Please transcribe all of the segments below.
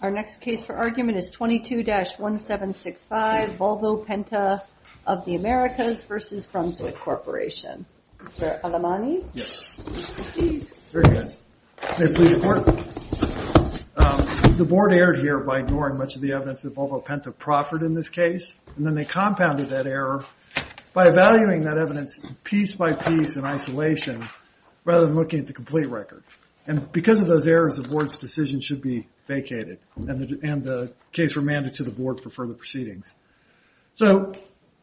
Our next case for argument is 22-1765, Volvo Penta of the Americas versus Brunswick Corporation. Mr. Alamani? Yes. Please proceed. Very good. May it please the court. The board erred here by ignoring much of the evidence that Volvo Penta proffered in this case, and then they compounded that error by evaluating that evidence piece by piece in isolation rather than looking at the complete record. And because of those errors, the board's decision should be vacated, and the case remanded to the board for further proceedings. So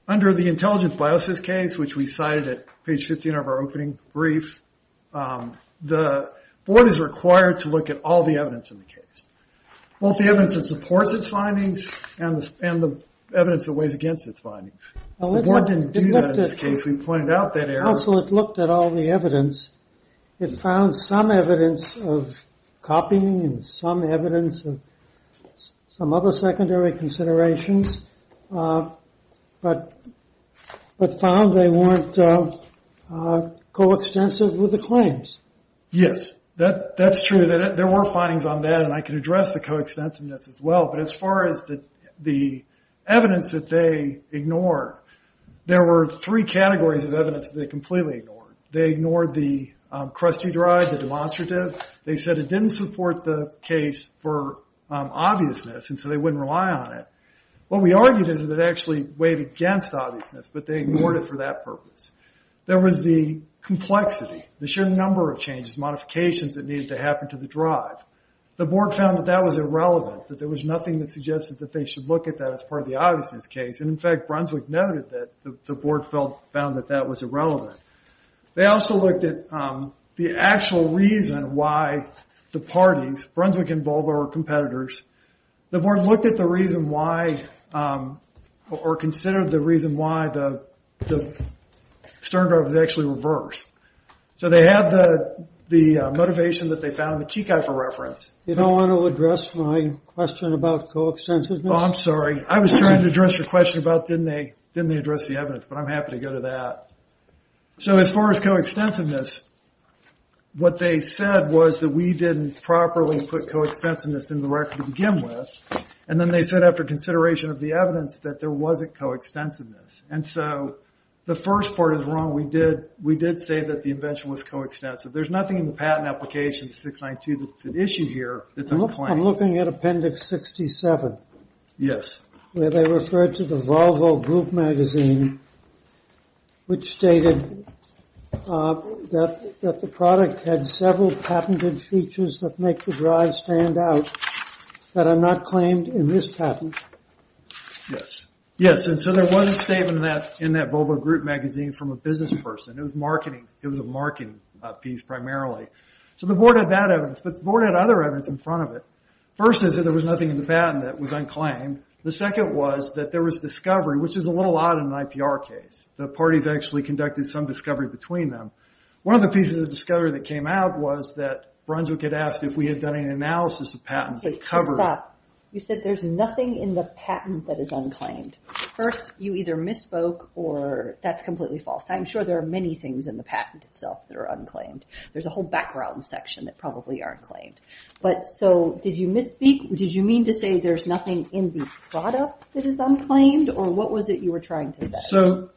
under the intelligence biases case, which we cited at page 15 of our opening brief, the board is required to look at all the evidence in the case, both the evidence that supports its findings and the evidence that weighs against its findings. The board didn't do that in this case. We pointed out that error. Also, it looked at all the evidence. It found some evidence of copying and some evidence of some other secondary considerations, but found they weren't coextensive with the claims. Yes, that's true. There were findings on that, and I can address the coextensiveness as well. But as far as the evidence that they ignored, there were three categories of evidence that they completely ignored. They ignored the crusty drive, the demonstrative. They said it didn't support the case for obviousness, and so they wouldn't rely on it. What we argued is that it actually weighed against obviousness, but they ignored it for that purpose. There was the complexity, the sheer number of changes, modifications that needed to happen to the drive. The board found that that was irrelevant, that there was nothing that suggested that they should look at that as part of the obviousness case. And in fact, Brunswick noted that the board found that that was irrelevant. They also looked at the actual reason why the parties, Brunswick and Bulver, were competitors. The board looked at the reason why, or considered the reason why, the stern drive was actually reversed. So they had the motivation that they found in the Cheek Eye for reference. You don't want to address my question about coextensiveness? Oh, I'm sorry. I was trying to address your question about, didn't they address the evidence? But I'm happy to go to that. So as far as coextensiveness, what they said was that we didn't properly put coextensiveness in the record to begin with. And then they said, after consideration of the evidence, that there wasn't coextensiveness. And so the first part is wrong. We did say that the invention was coextensive. There's nothing in the patent application, 692, that's an issue here that's unclaimed. I'm looking at Appendix 67. Yes. Where they referred to the Volvo Group magazine, which stated that the product had several patented features that make the drive stand out that are not claimed in this patent. Yes. Yes, and so there was a statement in that Volvo Group magazine from a business person. It was marketing. It was a marketing piece, primarily. So the board had that evidence. But the board had other evidence in front of it. First, they said there was nothing in the patent that was unclaimed. The second was that there was discovery, which is a little odd in an IPR case. The parties actually conducted some discovery between them. One of the pieces of discovery that came out was that Brunswick had asked if we had done an analysis of patents that covered. Stop. You said there's nothing in the patent that is unclaimed. First, you either misspoke or that's completely false. I'm sure there are many things in the patent itself that are unclaimed. There's a whole background section that probably aren't claimed. But so did you misspeak? Did you mean to say there's nothing in the product that is unclaimed? Or what was it you were trying to say?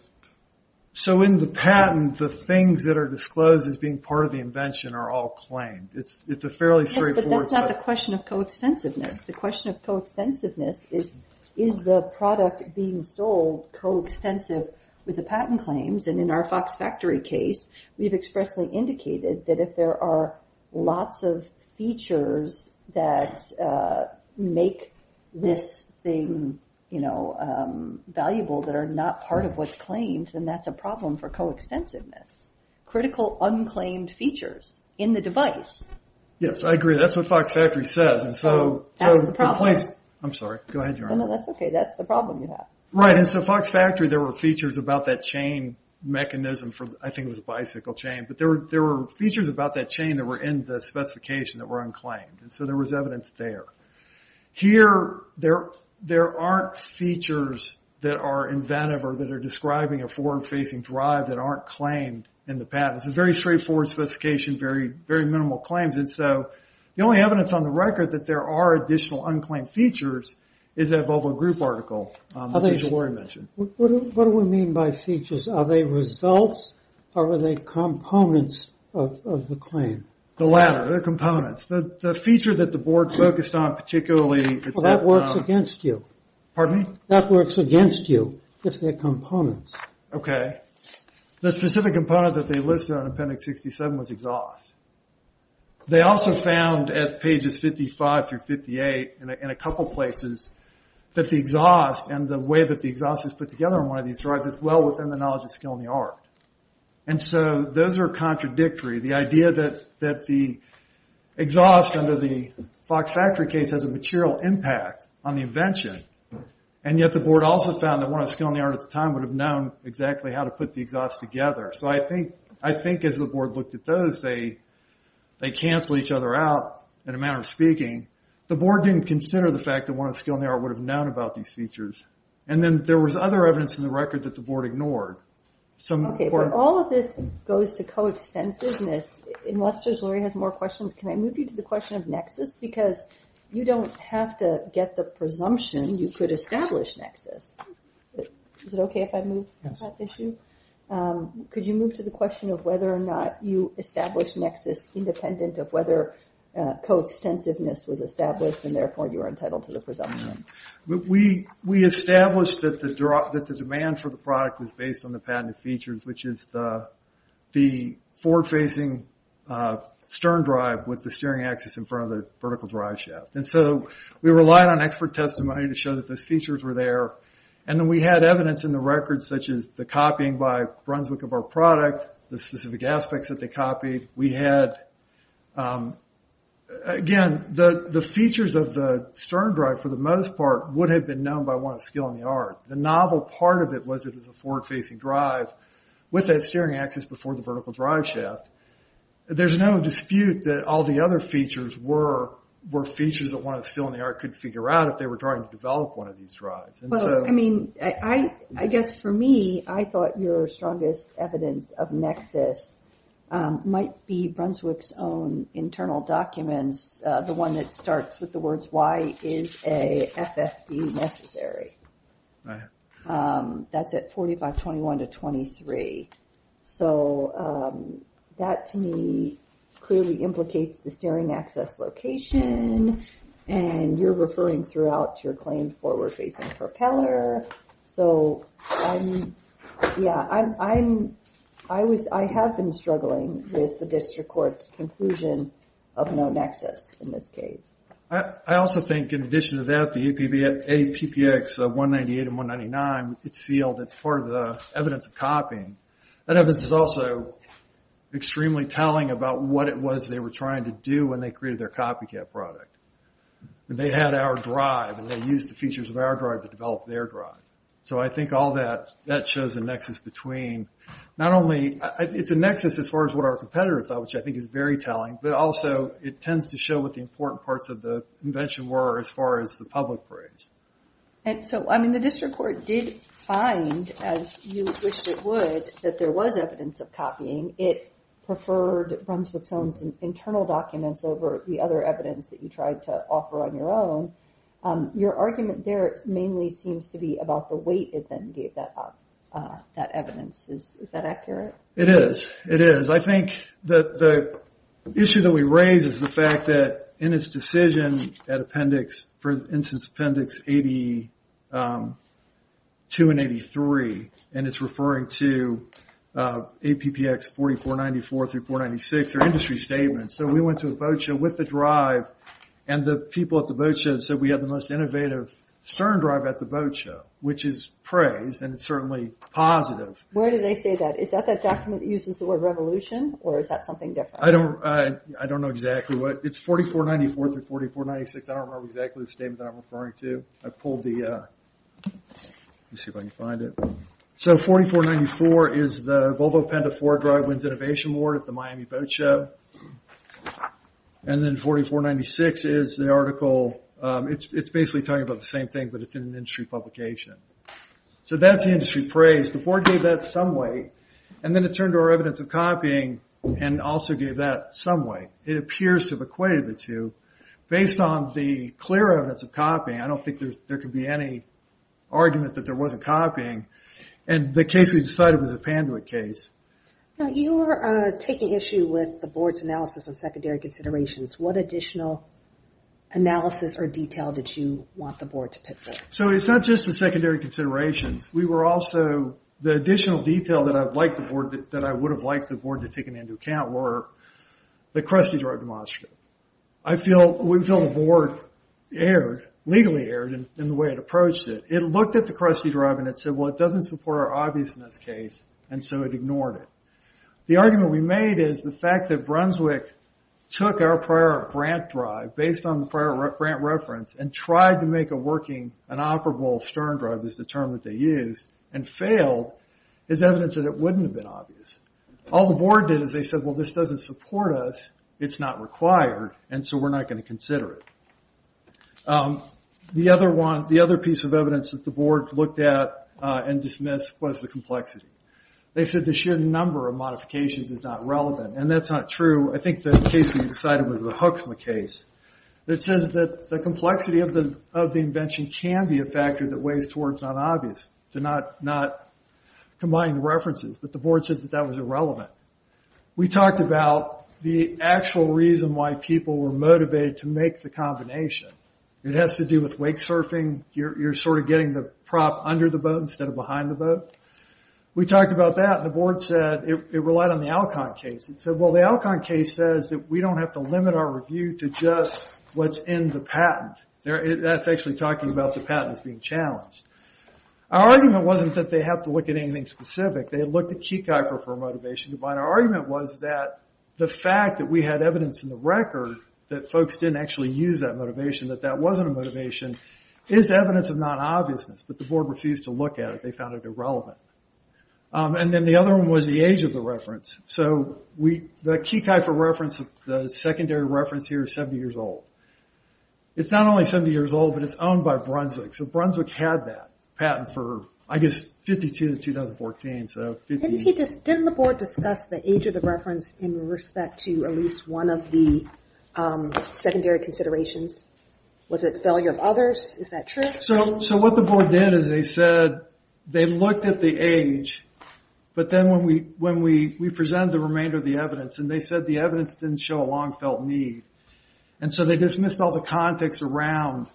So in the patent, the things that are disclosed as being part of the invention are all claimed. It's a fairly straightforward. Yes, but that's not the question of coextensiveness. The question of coextensiveness is, is the product being sold coextensive with the patent claims? And in our Fox Factory case, we've expressly indicated that if there are lots of features that make this thing valuable that are not part of what's claimed, then that's a problem for coextensiveness. Critical unclaimed features in the device. Yes, I agree. That's what Fox Factory says. And so the place. That's the problem. I'm sorry. Go ahead, your honor. No, that's OK. That's the problem you have. Right. And so Fox Factory, there were features about that chain mechanism for, I think it was a bicycle chain. But there were features about that chain that were in the specification that were unclaimed. And so there was evidence there. Here, there aren't features that are inventive or that are describing a forward-facing drive that aren't claimed in the patent. It's a very straightforward sophistication, very minimal claims. And so the only evidence on the record that there are additional unclaimed features is that Volvo Group article that you already mentioned. What do we mean by features? Are they results? Or are they components of the claim? The latter, the components. The feature that the board focused on particularly. Well, that works against you. Pardon me? That works against you if they're components. OK. The specific component that they listed on Appendix 67 was exhaust. They also found at pages 55 through 58 in a couple places that the exhaust and the way that the exhaust is put together in one of these drives is well within the knowledge of skill and the art. And so those are contradictory. The idea that the exhaust under the Fox factory case has a material impact on the invention. And yet the board also found that one of the skill and the art at the time would have known exactly how to put the exhaust together. So I think as the board looked at those, they canceled each other out in a manner of speaking. The board didn't consider the fact that one of the skill and the art would have known about these features. And then there was other evidence in the record that the board ignored. OK. All of this goes to co-extensiveness. And Lester's already has more questions. Can I move you to the question of nexus? Because you don't have to get the presumption you could establish nexus. Is it OK if I move that issue? Could you move to the question of whether or not you establish nexus independent of whether co-extensiveness was established and therefore you are entitled to the presumption? We established that the demand for the product was based on the patented features, which is the forward-facing stern drive with the steering axis in front of the vertical drive shaft. And so we relied on expert testimony to show that those features were there. And then we had evidence in the record, such as the copying by Brunswick of our product, the specific aspects that they copied. We had, again, the features of the stern drive, for the most part, would have been known by one of skill and the art. The novel part of it was it was a forward-facing drive with that steering axis before the vertical drive shaft. There's no dispute that all the other features were features that one of skill and the art could figure out if they were trying to develop one of these drives. I mean, I guess for me, I thought your strongest evidence of nexus might be Brunswick's own internal documents, the one that that's at 4521 to 23. So that, to me, clearly implicates the steering axis location. And you're referring throughout to your claim forward-facing propeller. So yeah, I have been struggling with the district court's conclusion of no nexus in this case. I also think, in addition to that, the APPX 198 and 199, it's sealed. It's part of the evidence of copying. That evidence is also extremely telling about what it was they were trying to do when they created their copycat product. They had our drive, and they used the features of our drive to develop their drive. So I think all that, that shows the nexus between not only, it's a nexus as far as what our competitor thought, which I think is very telling. But also, it tends to show what the important parts of the invention were as far as the public praise. And so, I mean, the district court did find, as you wished it would, that there was evidence of copying. It preferred Brunswick's own internal documents over the other evidence that you tried to offer on your own. Your argument there, it mainly seems to be about the weight it then gave that evidence. Is that accurate? It is. It is. I think that the issue that we raise is the fact that in its decision at appendix, for instance, appendix 82 and 83, and it's referring to APPX 4494 through 496, their industry statement. So we went to a boat show with the drive, and the people at the boat show said we had the most innovative stern drive at the boat show, which is praise, and it's certainly positive. Where do they say that? Is that that document that uses the word revolution, or is that something different? I don't know exactly what. It's 4494 through 4496. I don't remember exactly the statement that I'm referring to. I pulled the, let's see if I can find it. So 4494 is the Volvo Penta 4 Drive Wins Innovation Award at the Miami Boat Show. And then 4496 is the article, it's basically talking about the same thing, but it's in an industry publication. So that's the industry praise. The board gave that some weight, and then it turned to our evidence of copying, and also gave that some weight. It appears to have equated the two. Based on the clear evidence of copying, I don't think there could be any argument that there wasn't copying. And the case we decided was a Panduit case. Now you were taking issue with the board's analysis of secondary considerations. What additional analysis or detail did you want the board to pit for? So it's not just the secondary considerations. We were also, the additional detail that I would have liked the board to have taken into account were the Krusty Drive demonstrator. I feel, we feel the board erred, legally erred in the way it approached it. It looked at the Krusty Drive and it said, well it doesn't support our obviousness case, and so it ignored it. The argument we made is the fact that Brunswick took our prior grant drive, based on the prior grant reference, and tried to make a working, an operable stern drive is the term that they used, and failed, is evidence that it wouldn't have been obvious. All the board did is they said, well this doesn't support us, it's not required, and so we're not gonna consider it. The other piece of evidence that the board looked at and dismissed was the complexity. They said the sheer number of modifications is not relevant, and that's not true. I think the case we decided was the Huxma case. It says that the complexity of the invention can be a factor that weighs towards not obvious, to not combine the references, but the board said that that was irrelevant. We talked about the actual reason why people were motivated to make the combination. It has to do with wake surfing, you're sort of getting the prop under the boat instead of behind the boat. We talked about that, and the board said, it relied on the Alcon case. It said, well the Alcon case says that we don't have to limit our review to just what's in the patent. That's actually talking about the patent that's being challenged. Our argument wasn't that they have to look at anything specific. They looked at Keikai for a motivation to bind. Our argument was that the fact that we had evidence in the record that folks didn't actually use that motivation, that that wasn't a motivation, is evidence of non-obviousness, but the board refused to look at it. They found it irrelevant. And then the other one was the age of the reference. So the Keikai for reference, the secondary reference here is 70 years old. It's not only 70 years old, but it's owned by Brunswick. So Brunswick had that patent for, I guess, 52 to 2014, so 50. Didn't the board discuss the age of the reference in respect to at least one of the secondary considerations? Was it failure of others? Is that true? So what the board did is they said, they looked at the age, but then when we present the remainder of the evidence, and they said the evidence didn't show a long-felt need. And so they dismissed all the context around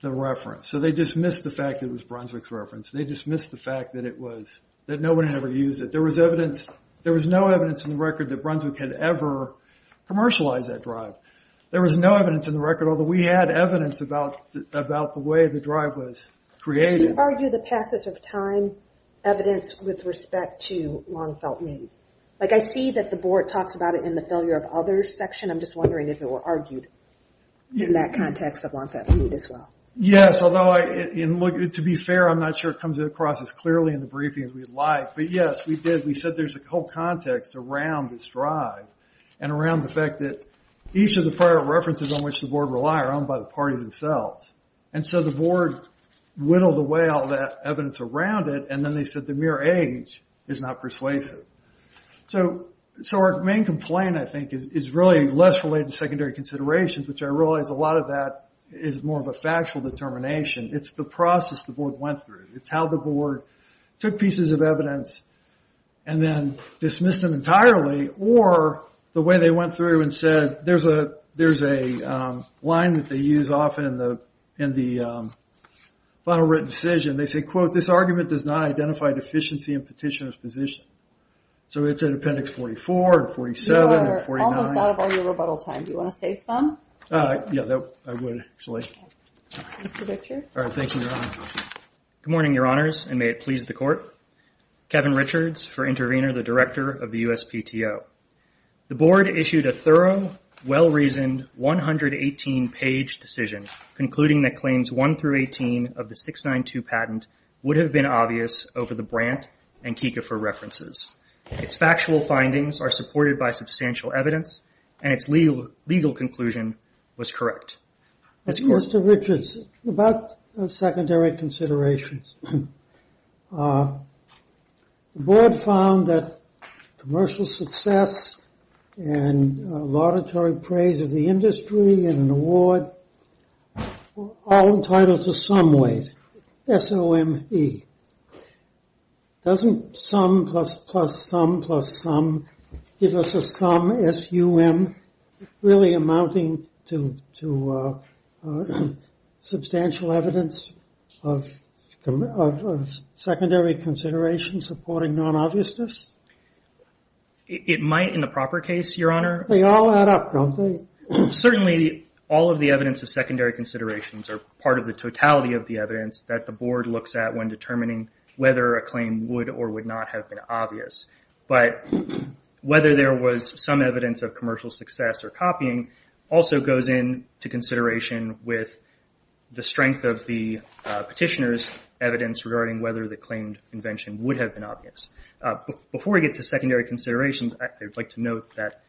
the reference. So they dismissed the fact that it was Brunswick's reference. They dismissed the fact that it was, that nobody ever used it. There was evidence, there was no evidence in the record that Brunswick had ever commercialized that drive. There was no evidence in the record, although we had evidence about the way the drive was created. Did you argue the passage of time evidence with respect to long-felt need? Like I see that the board talks about it in the failure of others section. I'm just wondering if it were argued in that context of long-felt need as well. Yes, although to be fair, I'm not sure it comes across as clearly in the briefing as we'd like, but yes, we did. We said there's a whole context around this drive, and around the fact that each of the prior references on which the board rely are owned by the parties themselves. And so the board whittled away all that evidence around it, and then they said the mere age is not persuasive. So our main complaint, I think, is really less related to secondary considerations, which I realize a lot of that is more of a factual determination. It's the process the board went through. It's how the board took pieces of evidence and then dismissed them entirely, or the way they went through and said, there's a line that they use often in the final written decision. They say, quote, this argument does not identify deficiency in petitioner's position. So it's in appendix 44, 47, or 49. You are almost out of all your rebuttal time. Do you want to save some? Yeah, I would, actually. All right, thank you, Your Honor. Good morning, Your Honors, and may it please the court. Kevin Richards for Intervenor, the Director of the USPTO. The board issued a thorough, well-reasoned, 118-page decision, concluding that claims 1 through 18 of the 692 patent would have been obvious over the Brandt and Kieckhofer references. Its factual findings are supported by substantial evidence, and its legal conclusion was correct. Mr. Richards, about secondary considerations. The board found that commercial success and laudatory praise of the industry and an award were all entitled to some weight, S-O-M-E. Doesn't sum plus plus sum plus sum give us a sum, S-U-M, really amounting to substantial evidence of secondary consideration supporting non-obviousness? It might, in the proper case, Your Honor. They all add up, don't they? Certainly, all of the evidence of secondary considerations are part of the totality of the evidence that the board looks at when determining whether a claim would or would not have been obvious. But whether there was some evidence of commercial success or copying also goes into consideration with the strength of the petitioner's evidence regarding whether the claimed invention would have been obvious. Before we get to secondary considerations, I'd like to note that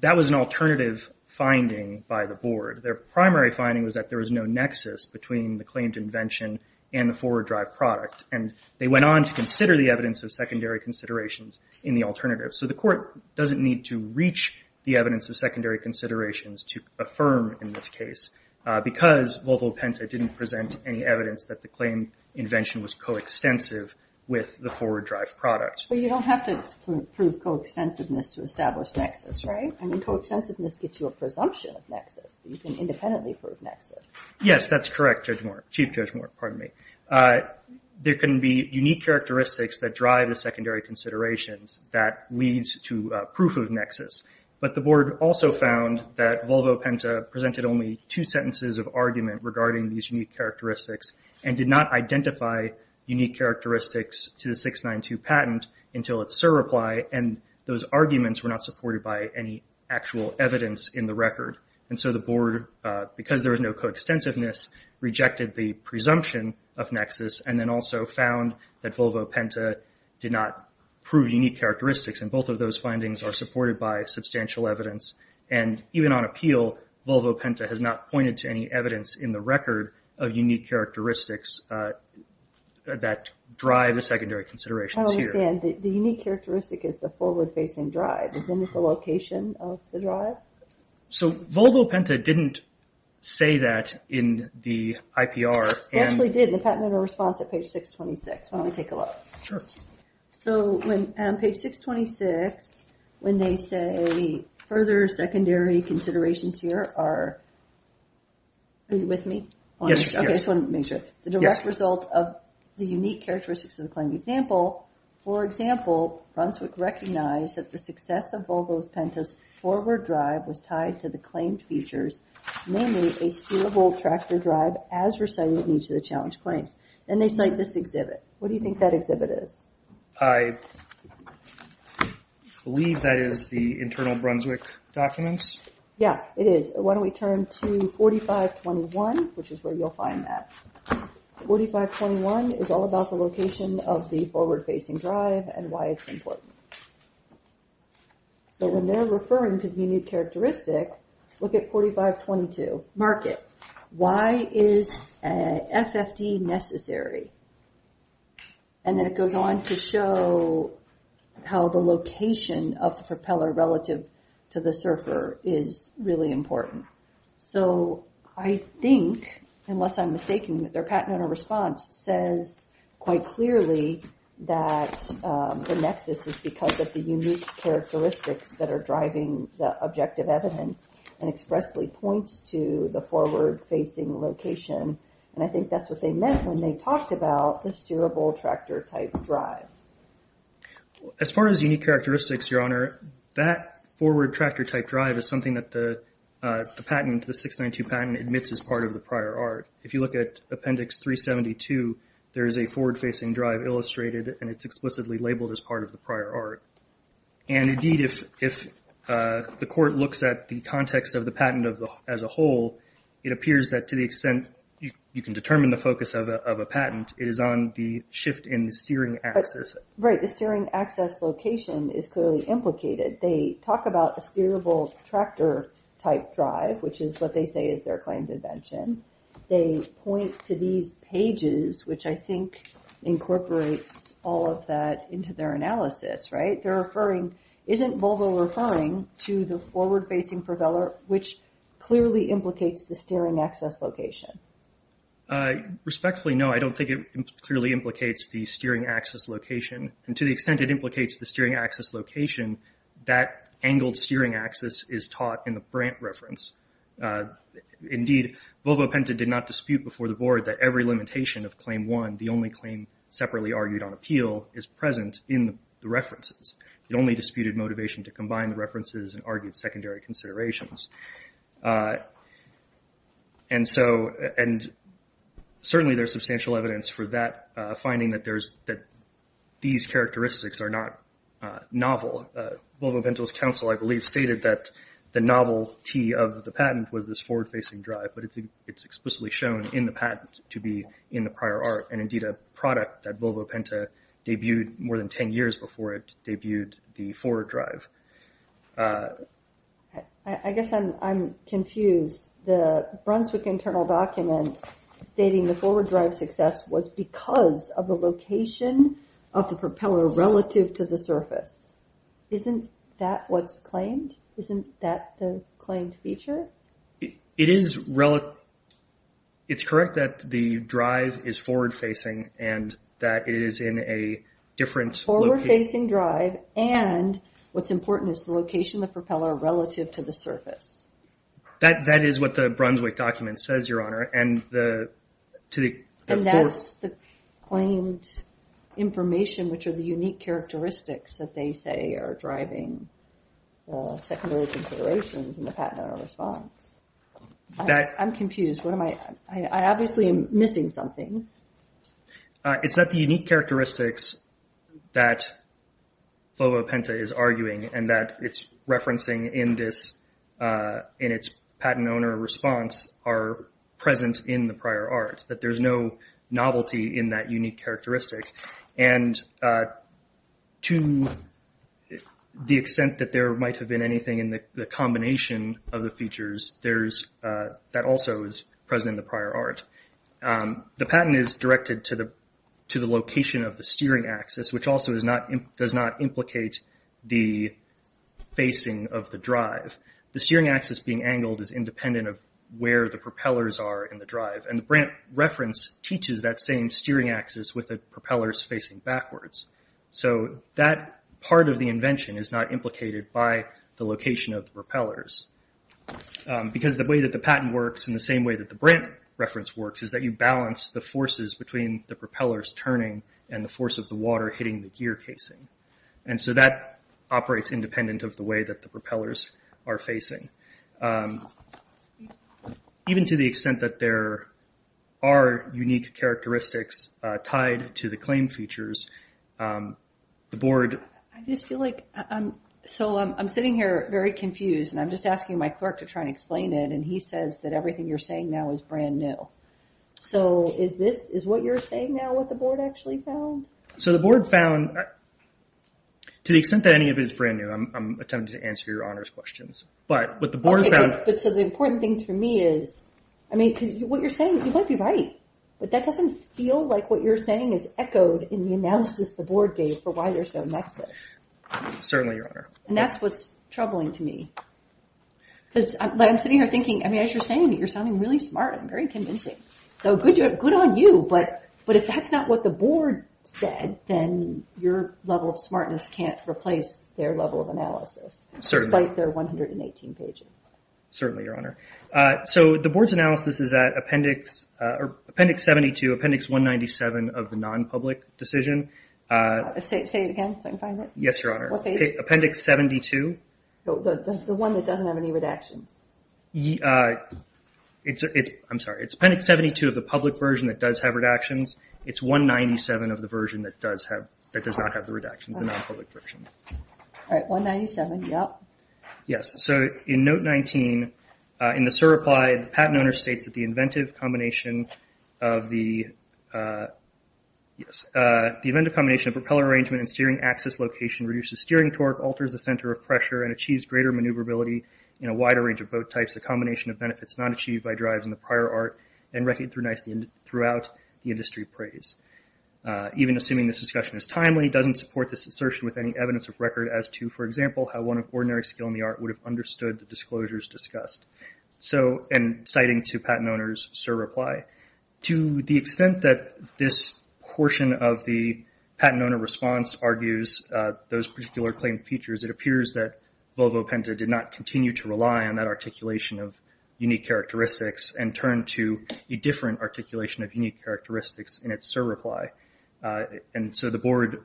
that was an alternative finding by the board. Their primary finding was that there was no nexus between the claimed invention and the forward drive product. And they went on to consider the evidence of secondary considerations in the alternative. So the court doesn't need to reach the evidence of secondary considerations to affirm in this case because Volvo Penta didn't present any evidence that the claimed invention was coextensive with the forward drive product. But you don't have to prove coextensiveness to establish nexus, right? I mean, coextensiveness gets you a presumption of nexus, but you can independently prove nexus. Yes, that's correct, Judge Moore, Chief Judge Moore, pardon me. There can be unique characteristics that drive the secondary considerations that leads to proof of nexus. But the board also found that Volvo Penta presented only two sentences of argument regarding these unique characteristics and did not identify unique characteristics to the 692 patent until its surreply. And those arguments were not supported by any actual evidence in the record. And so the board, because there was no coextensiveness, rejected the presumption of nexus and then also found that Volvo Penta did not prove unique characteristics. And both of those findings are supported by substantial evidence. And even on appeal, Volvo Penta has not pointed to any evidence in the record of unique characteristics that drive the secondary considerations here. I understand, the unique characteristic is the forward-facing drive. Isn't it the location of the drive? So Volvo Penta didn't say that in the IPR. They actually did in the Patent and Response at page 626, why don't we take a look. Sure. So on page 626, when they say further secondary considerations here are, are you with me? Yes, yes. Okay, I just wanted to make sure. The direct result of the unique characteristics of the claimed example, for example, Brunswick recognized that the success of Volvo Penta's forward drive was tied to the claimed features, namely a steerable tractor drive as recited in each of the challenge claims. And they cite this exhibit. What do you think that exhibit is? I believe that is the internal Brunswick documents. Yeah, it is. Why don't we turn to 4521, which is where you'll find that. 4521 is all about the location of the forward-facing drive and why it's important. So when they're referring to unique characteristic, look at 4522, mark it. Why is an FFD necessary? And then it goes on to show how the location of the propeller relative to the surfer is really important. So I think, unless I'm mistaking, that their patented response says quite clearly that the nexus is because of the unique characteristics that are driving the objective evidence and expressly points to the forward-facing location. And I think that's what they meant when they talked about the steerable tractor-type drive. As far as unique characteristics, Your Honor, that forward tractor-type drive is something that the patent, the 692 patent, admits as part of the prior art. If you look at Appendix 372, there is a forward-facing drive illustrated and it's explicitly labeled as part of the prior art. And indeed, if the court looks at the context of the patent as a whole, it appears that to the extent you can determine the focus of a patent, it is on the shift in the steering axis. Right, the steering access location is clearly implicated. They talk about a steerable tractor-type drive, which is what they say is their claim to dimension. They point to these pages, which I think incorporates all of that into their analysis, right? They're referring, isn't Volvo referring to the forward-facing propeller, which clearly implicates the steering access location? Respectfully, no, I don't think it clearly implicates the steering access location. And to the extent it implicates the steering access location, that angled steering axis is taught in the Brandt reference. Indeed, Volvo Penta did not dispute before the board that every limitation of Claim 1, the only claim separately argued on appeal, is present in the references. It only disputed motivation to combine the references and argued secondary considerations. And so, and certainly there's substantial evidence for that finding that these characteristics are not novel. Volvo Penta's counsel, I believe, stated that the novelty of the patent was this forward-facing drive, but it's explicitly shown in the patent to be in the prior art, and indeed a product that Volvo Penta debuted more than 10 years before it debuted the forward drive. I guess I'm confused. The Brunswick internal documents stating the forward drive success was because of the location of the propeller relative to the surface. Isn't that what's claimed? Isn't that the claimed feature? It is, it's correct that the drive is forward-facing and that it is in a different location. Forward-facing drive, and what's important is the location of the propeller relative to the surface. That is what the Brunswick document says, Your Honor, and the, to the, of course. And that's the claimed information, which are the unique characteristics that they say are driving the secondary considerations in the patent or response. That. I'm confused, what am I, I obviously am missing something. It's not the unique characteristics that Volvo Penta is arguing, and that it's referencing in this, in its patent owner response are present in the prior art, that there's no novelty in that unique characteristic. And to the extent that there might have been anything in the combination of the features, there's, that also is present in the prior art. The patent is directed to the location of the steering axis, which also is not, does not implicate the facing of the drive. The steering axis being angled is independent of where the propellers are in the drive. And the Brandt reference teaches that same steering axis with the propellers facing backwards. So that part of the invention is not implicated by the location of the propellers. Because the way that the patent works in the same way that the Brandt reference works is that you balance the forces between the propellers turning and the force of the water hitting the gear casing. And so that operates independent of the way that the propellers are facing. Even to the extent that there are unique characteristics tied to the claim features, the board. I just feel like, so I'm sitting here very confused, and I'm just asking my clerk to try and explain it, and he says that everything you're saying now is brand new. So is this, is what you're saying now what the board actually found? So the board found, to the extent that any of it is brand new, I'm attempting to answer your Honor's questions. But what the board found. Okay, but so the important thing to me is, I mean, because what you're saying, you might be right. But that doesn't feel like what you're saying is echoed in the analysis the board gave for why there's no nexus. Certainly, Your Honor. And that's what's troubling to me. Because I'm sitting here thinking, I mean, as you're saying it, you're sounding really smart. I'm very convincing. So good on you, but if that's not what the board said, then your level of smartness can't replace their level of analysis. Certainly. Despite their 118 pages. Certainly, Your Honor. So the board's analysis is at Appendix 72, Appendix 197 of the non-public decision. Say it again so I can find it. Yes, Your Honor. What page? Appendix 72. The one that doesn't have any redactions. It's, I'm sorry, it's Appendix 72 of the public version that does have redactions. It's 197 of the version that does not have the redactions, the non-public version. All right, 197, yep. Yes, so in Note 19, in the SIR reply, the patent owner states that the inventive combination of the, yes, the inventive combination of propeller arrangement and steering axis location reduces steering torque, alters the center of pressure, and achieves greater maneuverability in a wider range of boat types. The combination of benefits not achieved by drives in the prior art and recognized throughout the industry praise. Even assuming this discussion is timely, it doesn't support this assertion with any evidence of record as to, for example, how one of ordinary skill in the art would have understood the disclosures discussed. So, and citing to patent owner's SIR reply, to the extent that this portion of the patent owner response argues those particular claim features, it appears that Volvo Penta did not continue to rely on that articulation of unique characteristics and turned to a different articulation of unique characteristics in its SIR reply. And so the board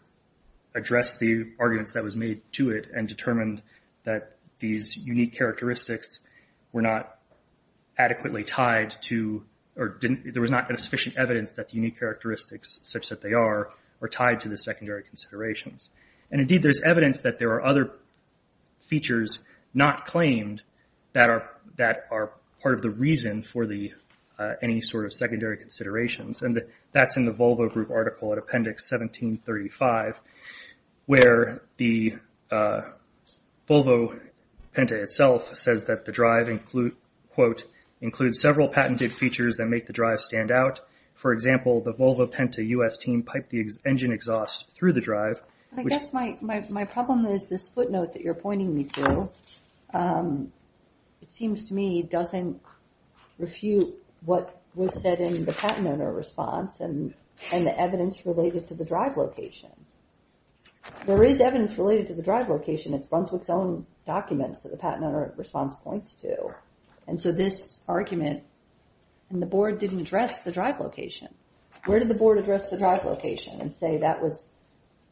addressed the arguments that was made to it and determined that these unique characteristics were not adequately tied to, or there was not sufficient evidence that the unique characteristics, such that they are, are tied to the secondary considerations. And indeed, there's evidence that there are other features not claimed that are part of the reason for any sort of secondary considerations. And that's in the Volvo Group article at Appendix 1735, where the Volvo Penta itself says that the drive, quote, includes several patented features that make the drive stand out. For example, the Volvo Penta US team piped the engine exhaust through the drive. I guess my problem is this footnote that you're pointing me to. It seems to me it doesn't refute what was said in the patent owner response and the evidence related to the drive location. There is evidence related to the drive location. It's Brunswick's own documents that the patent owner response points to. And so this argument, and the board didn't address the drive location. Where did the board address the drive location and say that was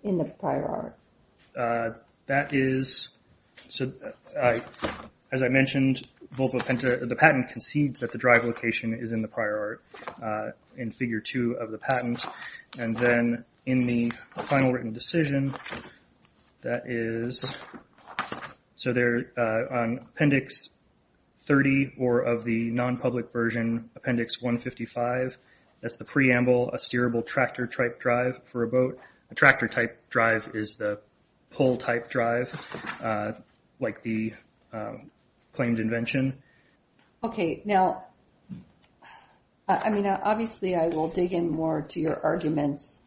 in the prior art? That is, so as I mentioned, Volvo Penta, the patent concedes that the drive location is in the prior art in figure two of the patent. And then in the final written decision, that is, so there, on Appendix 30 or of the non-public version, Appendix 155, that's the preamble, a steerable tractor-type drive for a boat. A tractor-type drive is the pull-type drive like the claimed invention. Okay, now, I mean, obviously I will dig in more to your arguments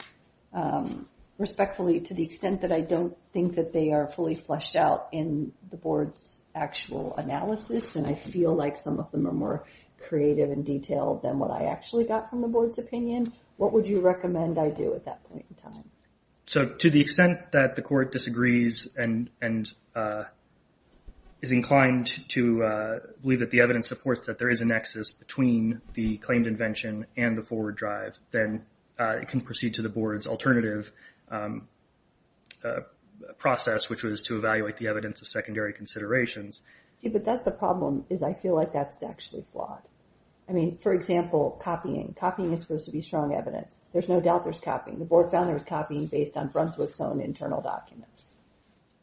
respectfully to the extent that I don't think that they are fully fleshed out in the board's actual analysis. And I feel like some of them are more creative and detailed than what I actually got from the board's opinion. What would you recommend I do at that point in time? So to the extent that the court disagrees and is inclined to believe that the evidence supports that there is a nexus between the claimed invention and the forward drive, then it can proceed to the board's alternative process, which was to evaluate the evidence of secondary considerations. Yeah, but that's the problem, is I feel like that's actually flawed. For example, copying. Copying is supposed to be strong evidence. There's no doubt there's copying. The board found there was copying based on Brunswick's own internal documents.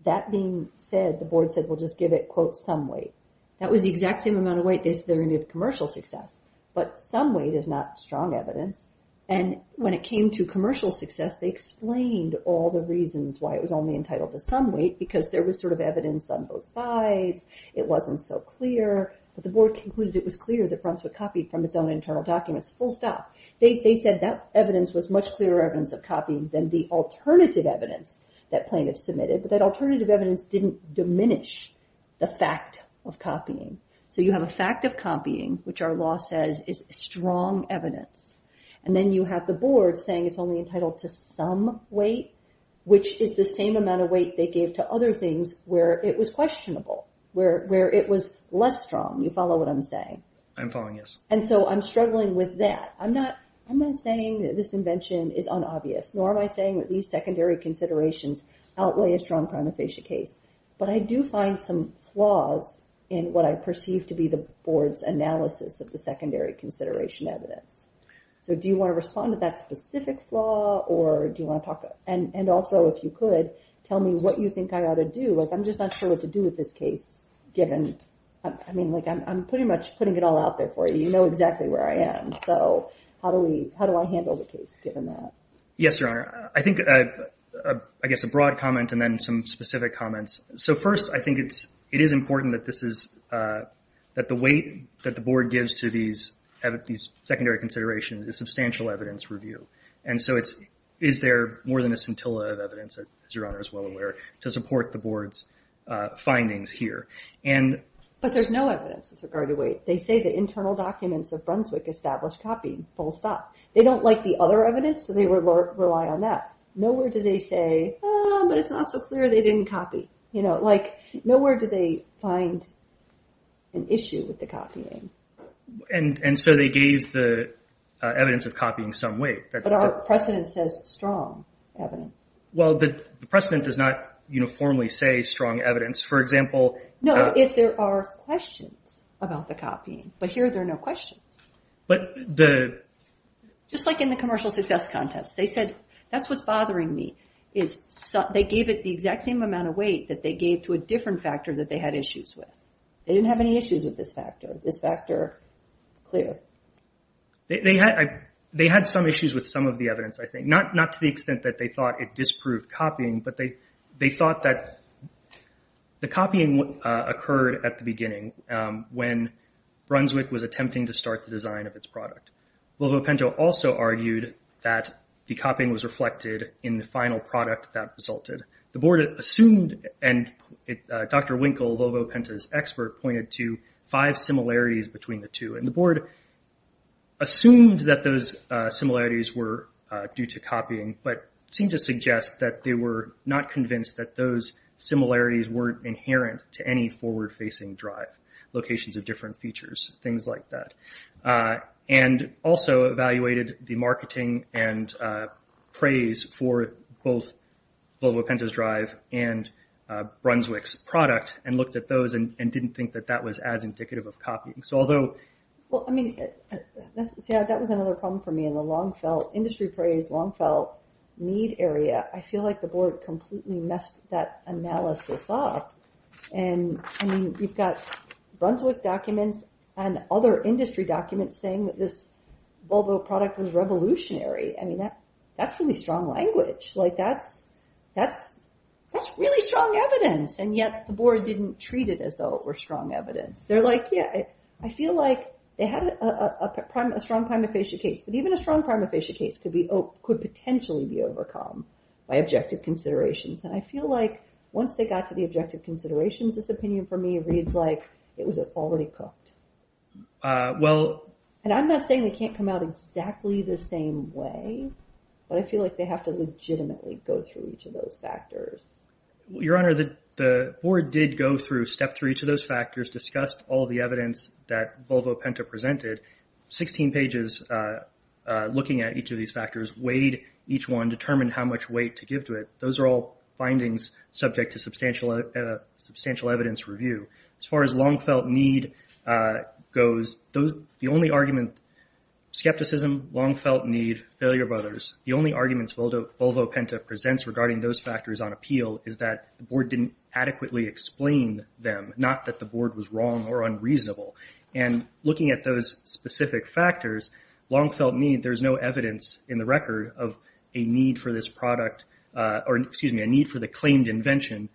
That being said, the board said, we'll just give it, quote, some weight. That was the exact same amount of weight they said they were gonna give commercial success, but some weight is not strong evidence. And when it came to commercial success, they explained all the reasons why it was only entitled to some weight because there was sort of evidence on both sides, it wasn't so clear, but the board concluded it was clear that Brunswick copied from its own internal documents, full stop. They said that evidence was much clearer evidence of copying than the alternative evidence that plaintiffs submitted, but that alternative evidence didn't diminish the fact of copying. So you have a fact of copying, which our law says is strong evidence, and then you have the board saying it's only entitled to some weight, which is the same amount of weight they gave to other things where it was questionable, where it was less strong. You follow what I'm saying? I'm following, yes. And so I'm struggling with that. I'm not saying that this invention is unobvious, nor am I saying that these secondary considerations outweigh a strong prima facie case, but I do find some flaws in what I perceive to be the board's analysis of the secondary consideration evidence. So do you wanna respond to that specific flaw or do you wanna talk? And also, if you could, tell me what you think I ought to do. Like, I'm just not sure what to do with this case, given, I mean, like, I'm pretty much putting it all out there for you. You know exactly where I am. So how do I handle the case, given that? Yes, Your Honor. I think, I guess, a broad comment and then some specific comments. So first, I think it is important that the weight that the board gives to these secondary considerations is substantial evidence review. And so it's, is there more than a scintilla of evidence, as Your Honor is well aware, to support the board's findings here. And- But there's no evidence with regard to weight. They say the internal documents of Brunswick established copying, full stop. They don't like the other evidence, so they rely on that. Nowhere do they say, ah, but it's not so clear they didn't copy. You know, like, nowhere do they find an issue with the copying. And so they gave the evidence of copying some weight. But our precedent says strong evidence. Well, the precedent does not uniformly say strong evidence. For example- No, if there are questions about the copying. But here, there are no questions. But the- Just like in the commercial success contest. They said, that's what's bothering me, is they gave it the exact same amount of weight that they gave to a different factor that they had issues with. They didn't have any issues with this factor. This factor, clear. They had, they had some issues with some of the evidence, I think. Not to the extent that they thought it disproved copying, but they thought that the copying occurred at the beginning when Brunswick was attempting to start the design of its product. Volvo Penta also argued that the copying was reflected in the final product that resulted. The board assumed, and Dr. Winkle, Volvo Penta's expert, pointed to five similarities between the two. And the board assumed that those similarities were due to copying, but seemed to suggest that they were not convinced that those similarities weren't inherent to any forward-facing drive. Locations of different features, things like that. And also evaluated the marketing and praise for both Volvo Penta's drive and Brunswick's product, and looked at those and didn't think that that was as indicative of copying. So although- Well, I mean, that was another problem for me in the long-felt industry praise, long-felt need area. I feel like the board completely messed that analysis up. And I mean, you've got Brunswick documents and other industry documents saying that this Volvo product was revolutionary. I mean, that's really strong language. Like, that's really strong evidence. And yet the board didn't treat it as though it were strong evidence. They're like, yeah, I feel like they had a strong prima facie case, but even a strong prima facie case could potentially be overcome by objective considerations. And I feel like once they got to the objective considerations, this opinion for me reads like it was already cooked. Well- And I'm not saying they can't come out exactly the same way, but I feel like they have to legitimately go through each of those factors. Your Honor, the board did go through, step through each of those factors, discussed all the evidence that Volvo Penta presented. 16 pages looking at each of these factors, weighed each one, determined how much weight to give to it. Those are all findings subject to substantial evidence review. As far as long felt need goes, the only argument, skepticism, long felt need, failure brothers, the only arguments Volvo Penta presents regarding those factors on appeal is that the board didn't adequately explain them, not that the board was wrong or unreasonable. And looking at those specific factors, long felt need, there's no evidence in the record of a need for this product, or excuse me, a need for the claimed invention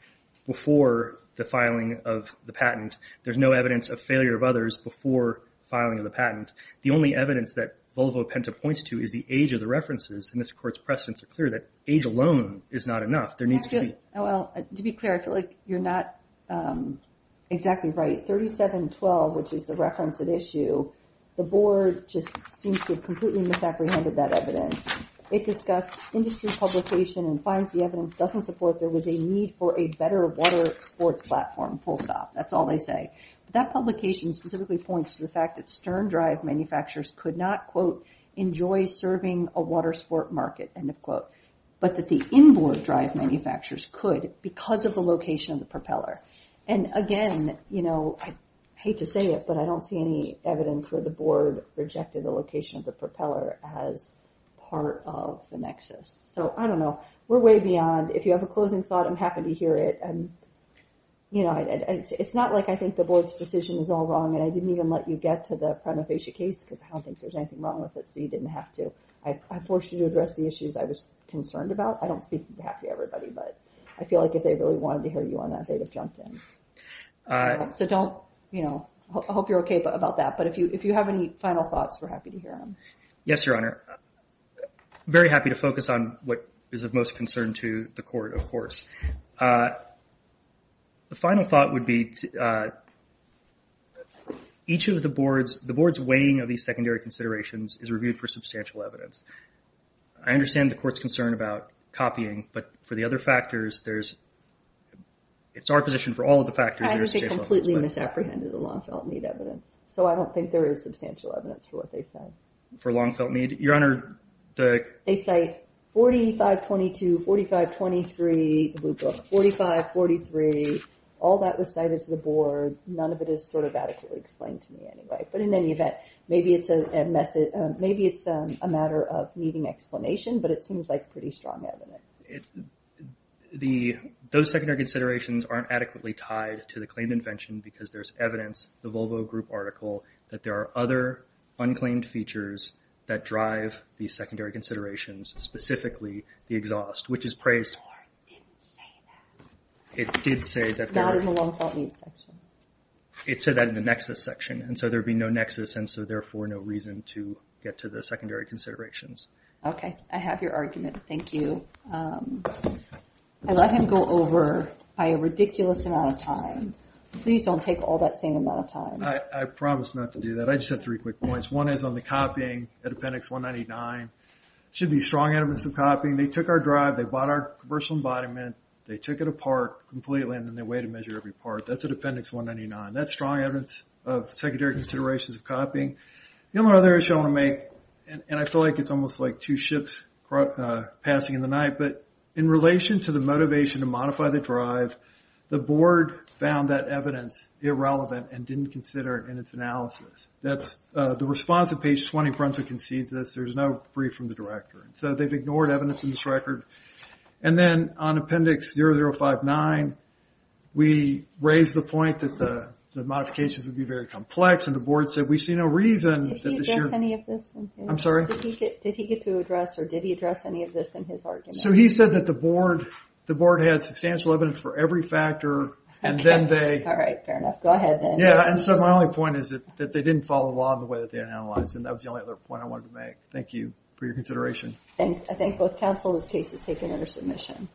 before the filing of the patent. There's no evidence of failure of others before filing of the patent. The only evidence that Volvo Penta points to is the age of the references. And this court's precedents are clear that age alone is not enough. There needs to be- Well, to be clear, I feel like you're not exactly right. 3712, which is the reference at issue, the board just seems to have completely misapprehended that evidence. It discussed industry publication and finds the evidence doesn't support there was a need for a better water sports platform, full stop, that's all they say. That publication specifically points to the fact that Stern Drive manufacturers could not, quote, enjoy serving a water sport market, end of quote, but that the inboard drive manufacturers could because of the location of the propeller. And again, I hate to say it, but I don't see any evidence where the board rejected the location of the propeller as part of the nexus. So I don't know. We're way beyond, if you have a closing thought, I'm happy to hear it. It's not like I think the board's decision is all wrong and I didn't even let you get to the prima facie case because I don't think there's anything wrong with it, so you didn't have to. I forced you to address the issues I was concerned about. I don't speak on behalf of everybody, but I feel like if they really wanted to hear you on that, they would have jumped in. So don't, you know, I hope you're okay about that, but if you have any final thoughts, we're happy to hear them. Yes, Your Honor. Very happy to focus on what is of most concern to the court, of course. The final thought would be each of the board's, the board's weighing of these secondary considerations is reviewed for substantial evidence. I understand the court's concern about copying, but for the other factors, there's, it's our position for all of the factors. I think they completely misapprehended the Longfelt Need evidence, so I don't think there is substantial evidence for what they said. For Longfelt Need? Your Honor, the- They cite 4522, 4523, 4543, all that was cited to the board. None of it is sort of adequately explained to me anyway, but in any event, maybe it's a message, maybe it's a matter of needing explanation, but it seems like pretty strong evidence. It, the, those secondary considerations aren't adequately tied to the claimed invention because there's evidence, the Volvo Group article, that there are other unclaimed features that drive these secondary considerations, specifically the exhaust, which is praised. The board didn't say that. It did say that there- Not in the Longfelt Need section. It said that in the Nexus section, and so there'd be no Nexus, and so therefore no reason to get to the secondary considerations. Okay, I have your argument, thank you. I let him go over by a ridiculous amount of time. Please don't take all that same amount of time. I promise not to do that. I just have three quick points. One is on the copying, the appendix 199. Should be strong evidence of copying. They took our drive, they bought our commercial embodiment, they took it apart completely, and then they weighed and measured every part. That's at appendix 199. That's strong evidence of secondary considerations of copying. The only other issue I want to make, and I feel like it's almost like two ships passing in the night, but in relation to the motivation to modify the drive, the board found that evidence irrelevant and didn't consider it in its analysis. That's the response to page 20, Brunson concedes this. There's no brief from the director. So they've ignored evidence in this record. And then on appendix 0059, we raised the point that the modifications would be very complex, and the board said we see no reason that this year- Did he address any of this? I'm sorry? Did he get to address, or did he address any of this in his argument? So he said that the board had substantial evidence for every factor, and then they- All right, fair enough. Go ahead then. Yeah, and so my only point is that they didn't follow along the way that they had analyzed, and that was the only other point I wanted to make. Thank you for your consideration. I thank both counsel. This case is taken under submission.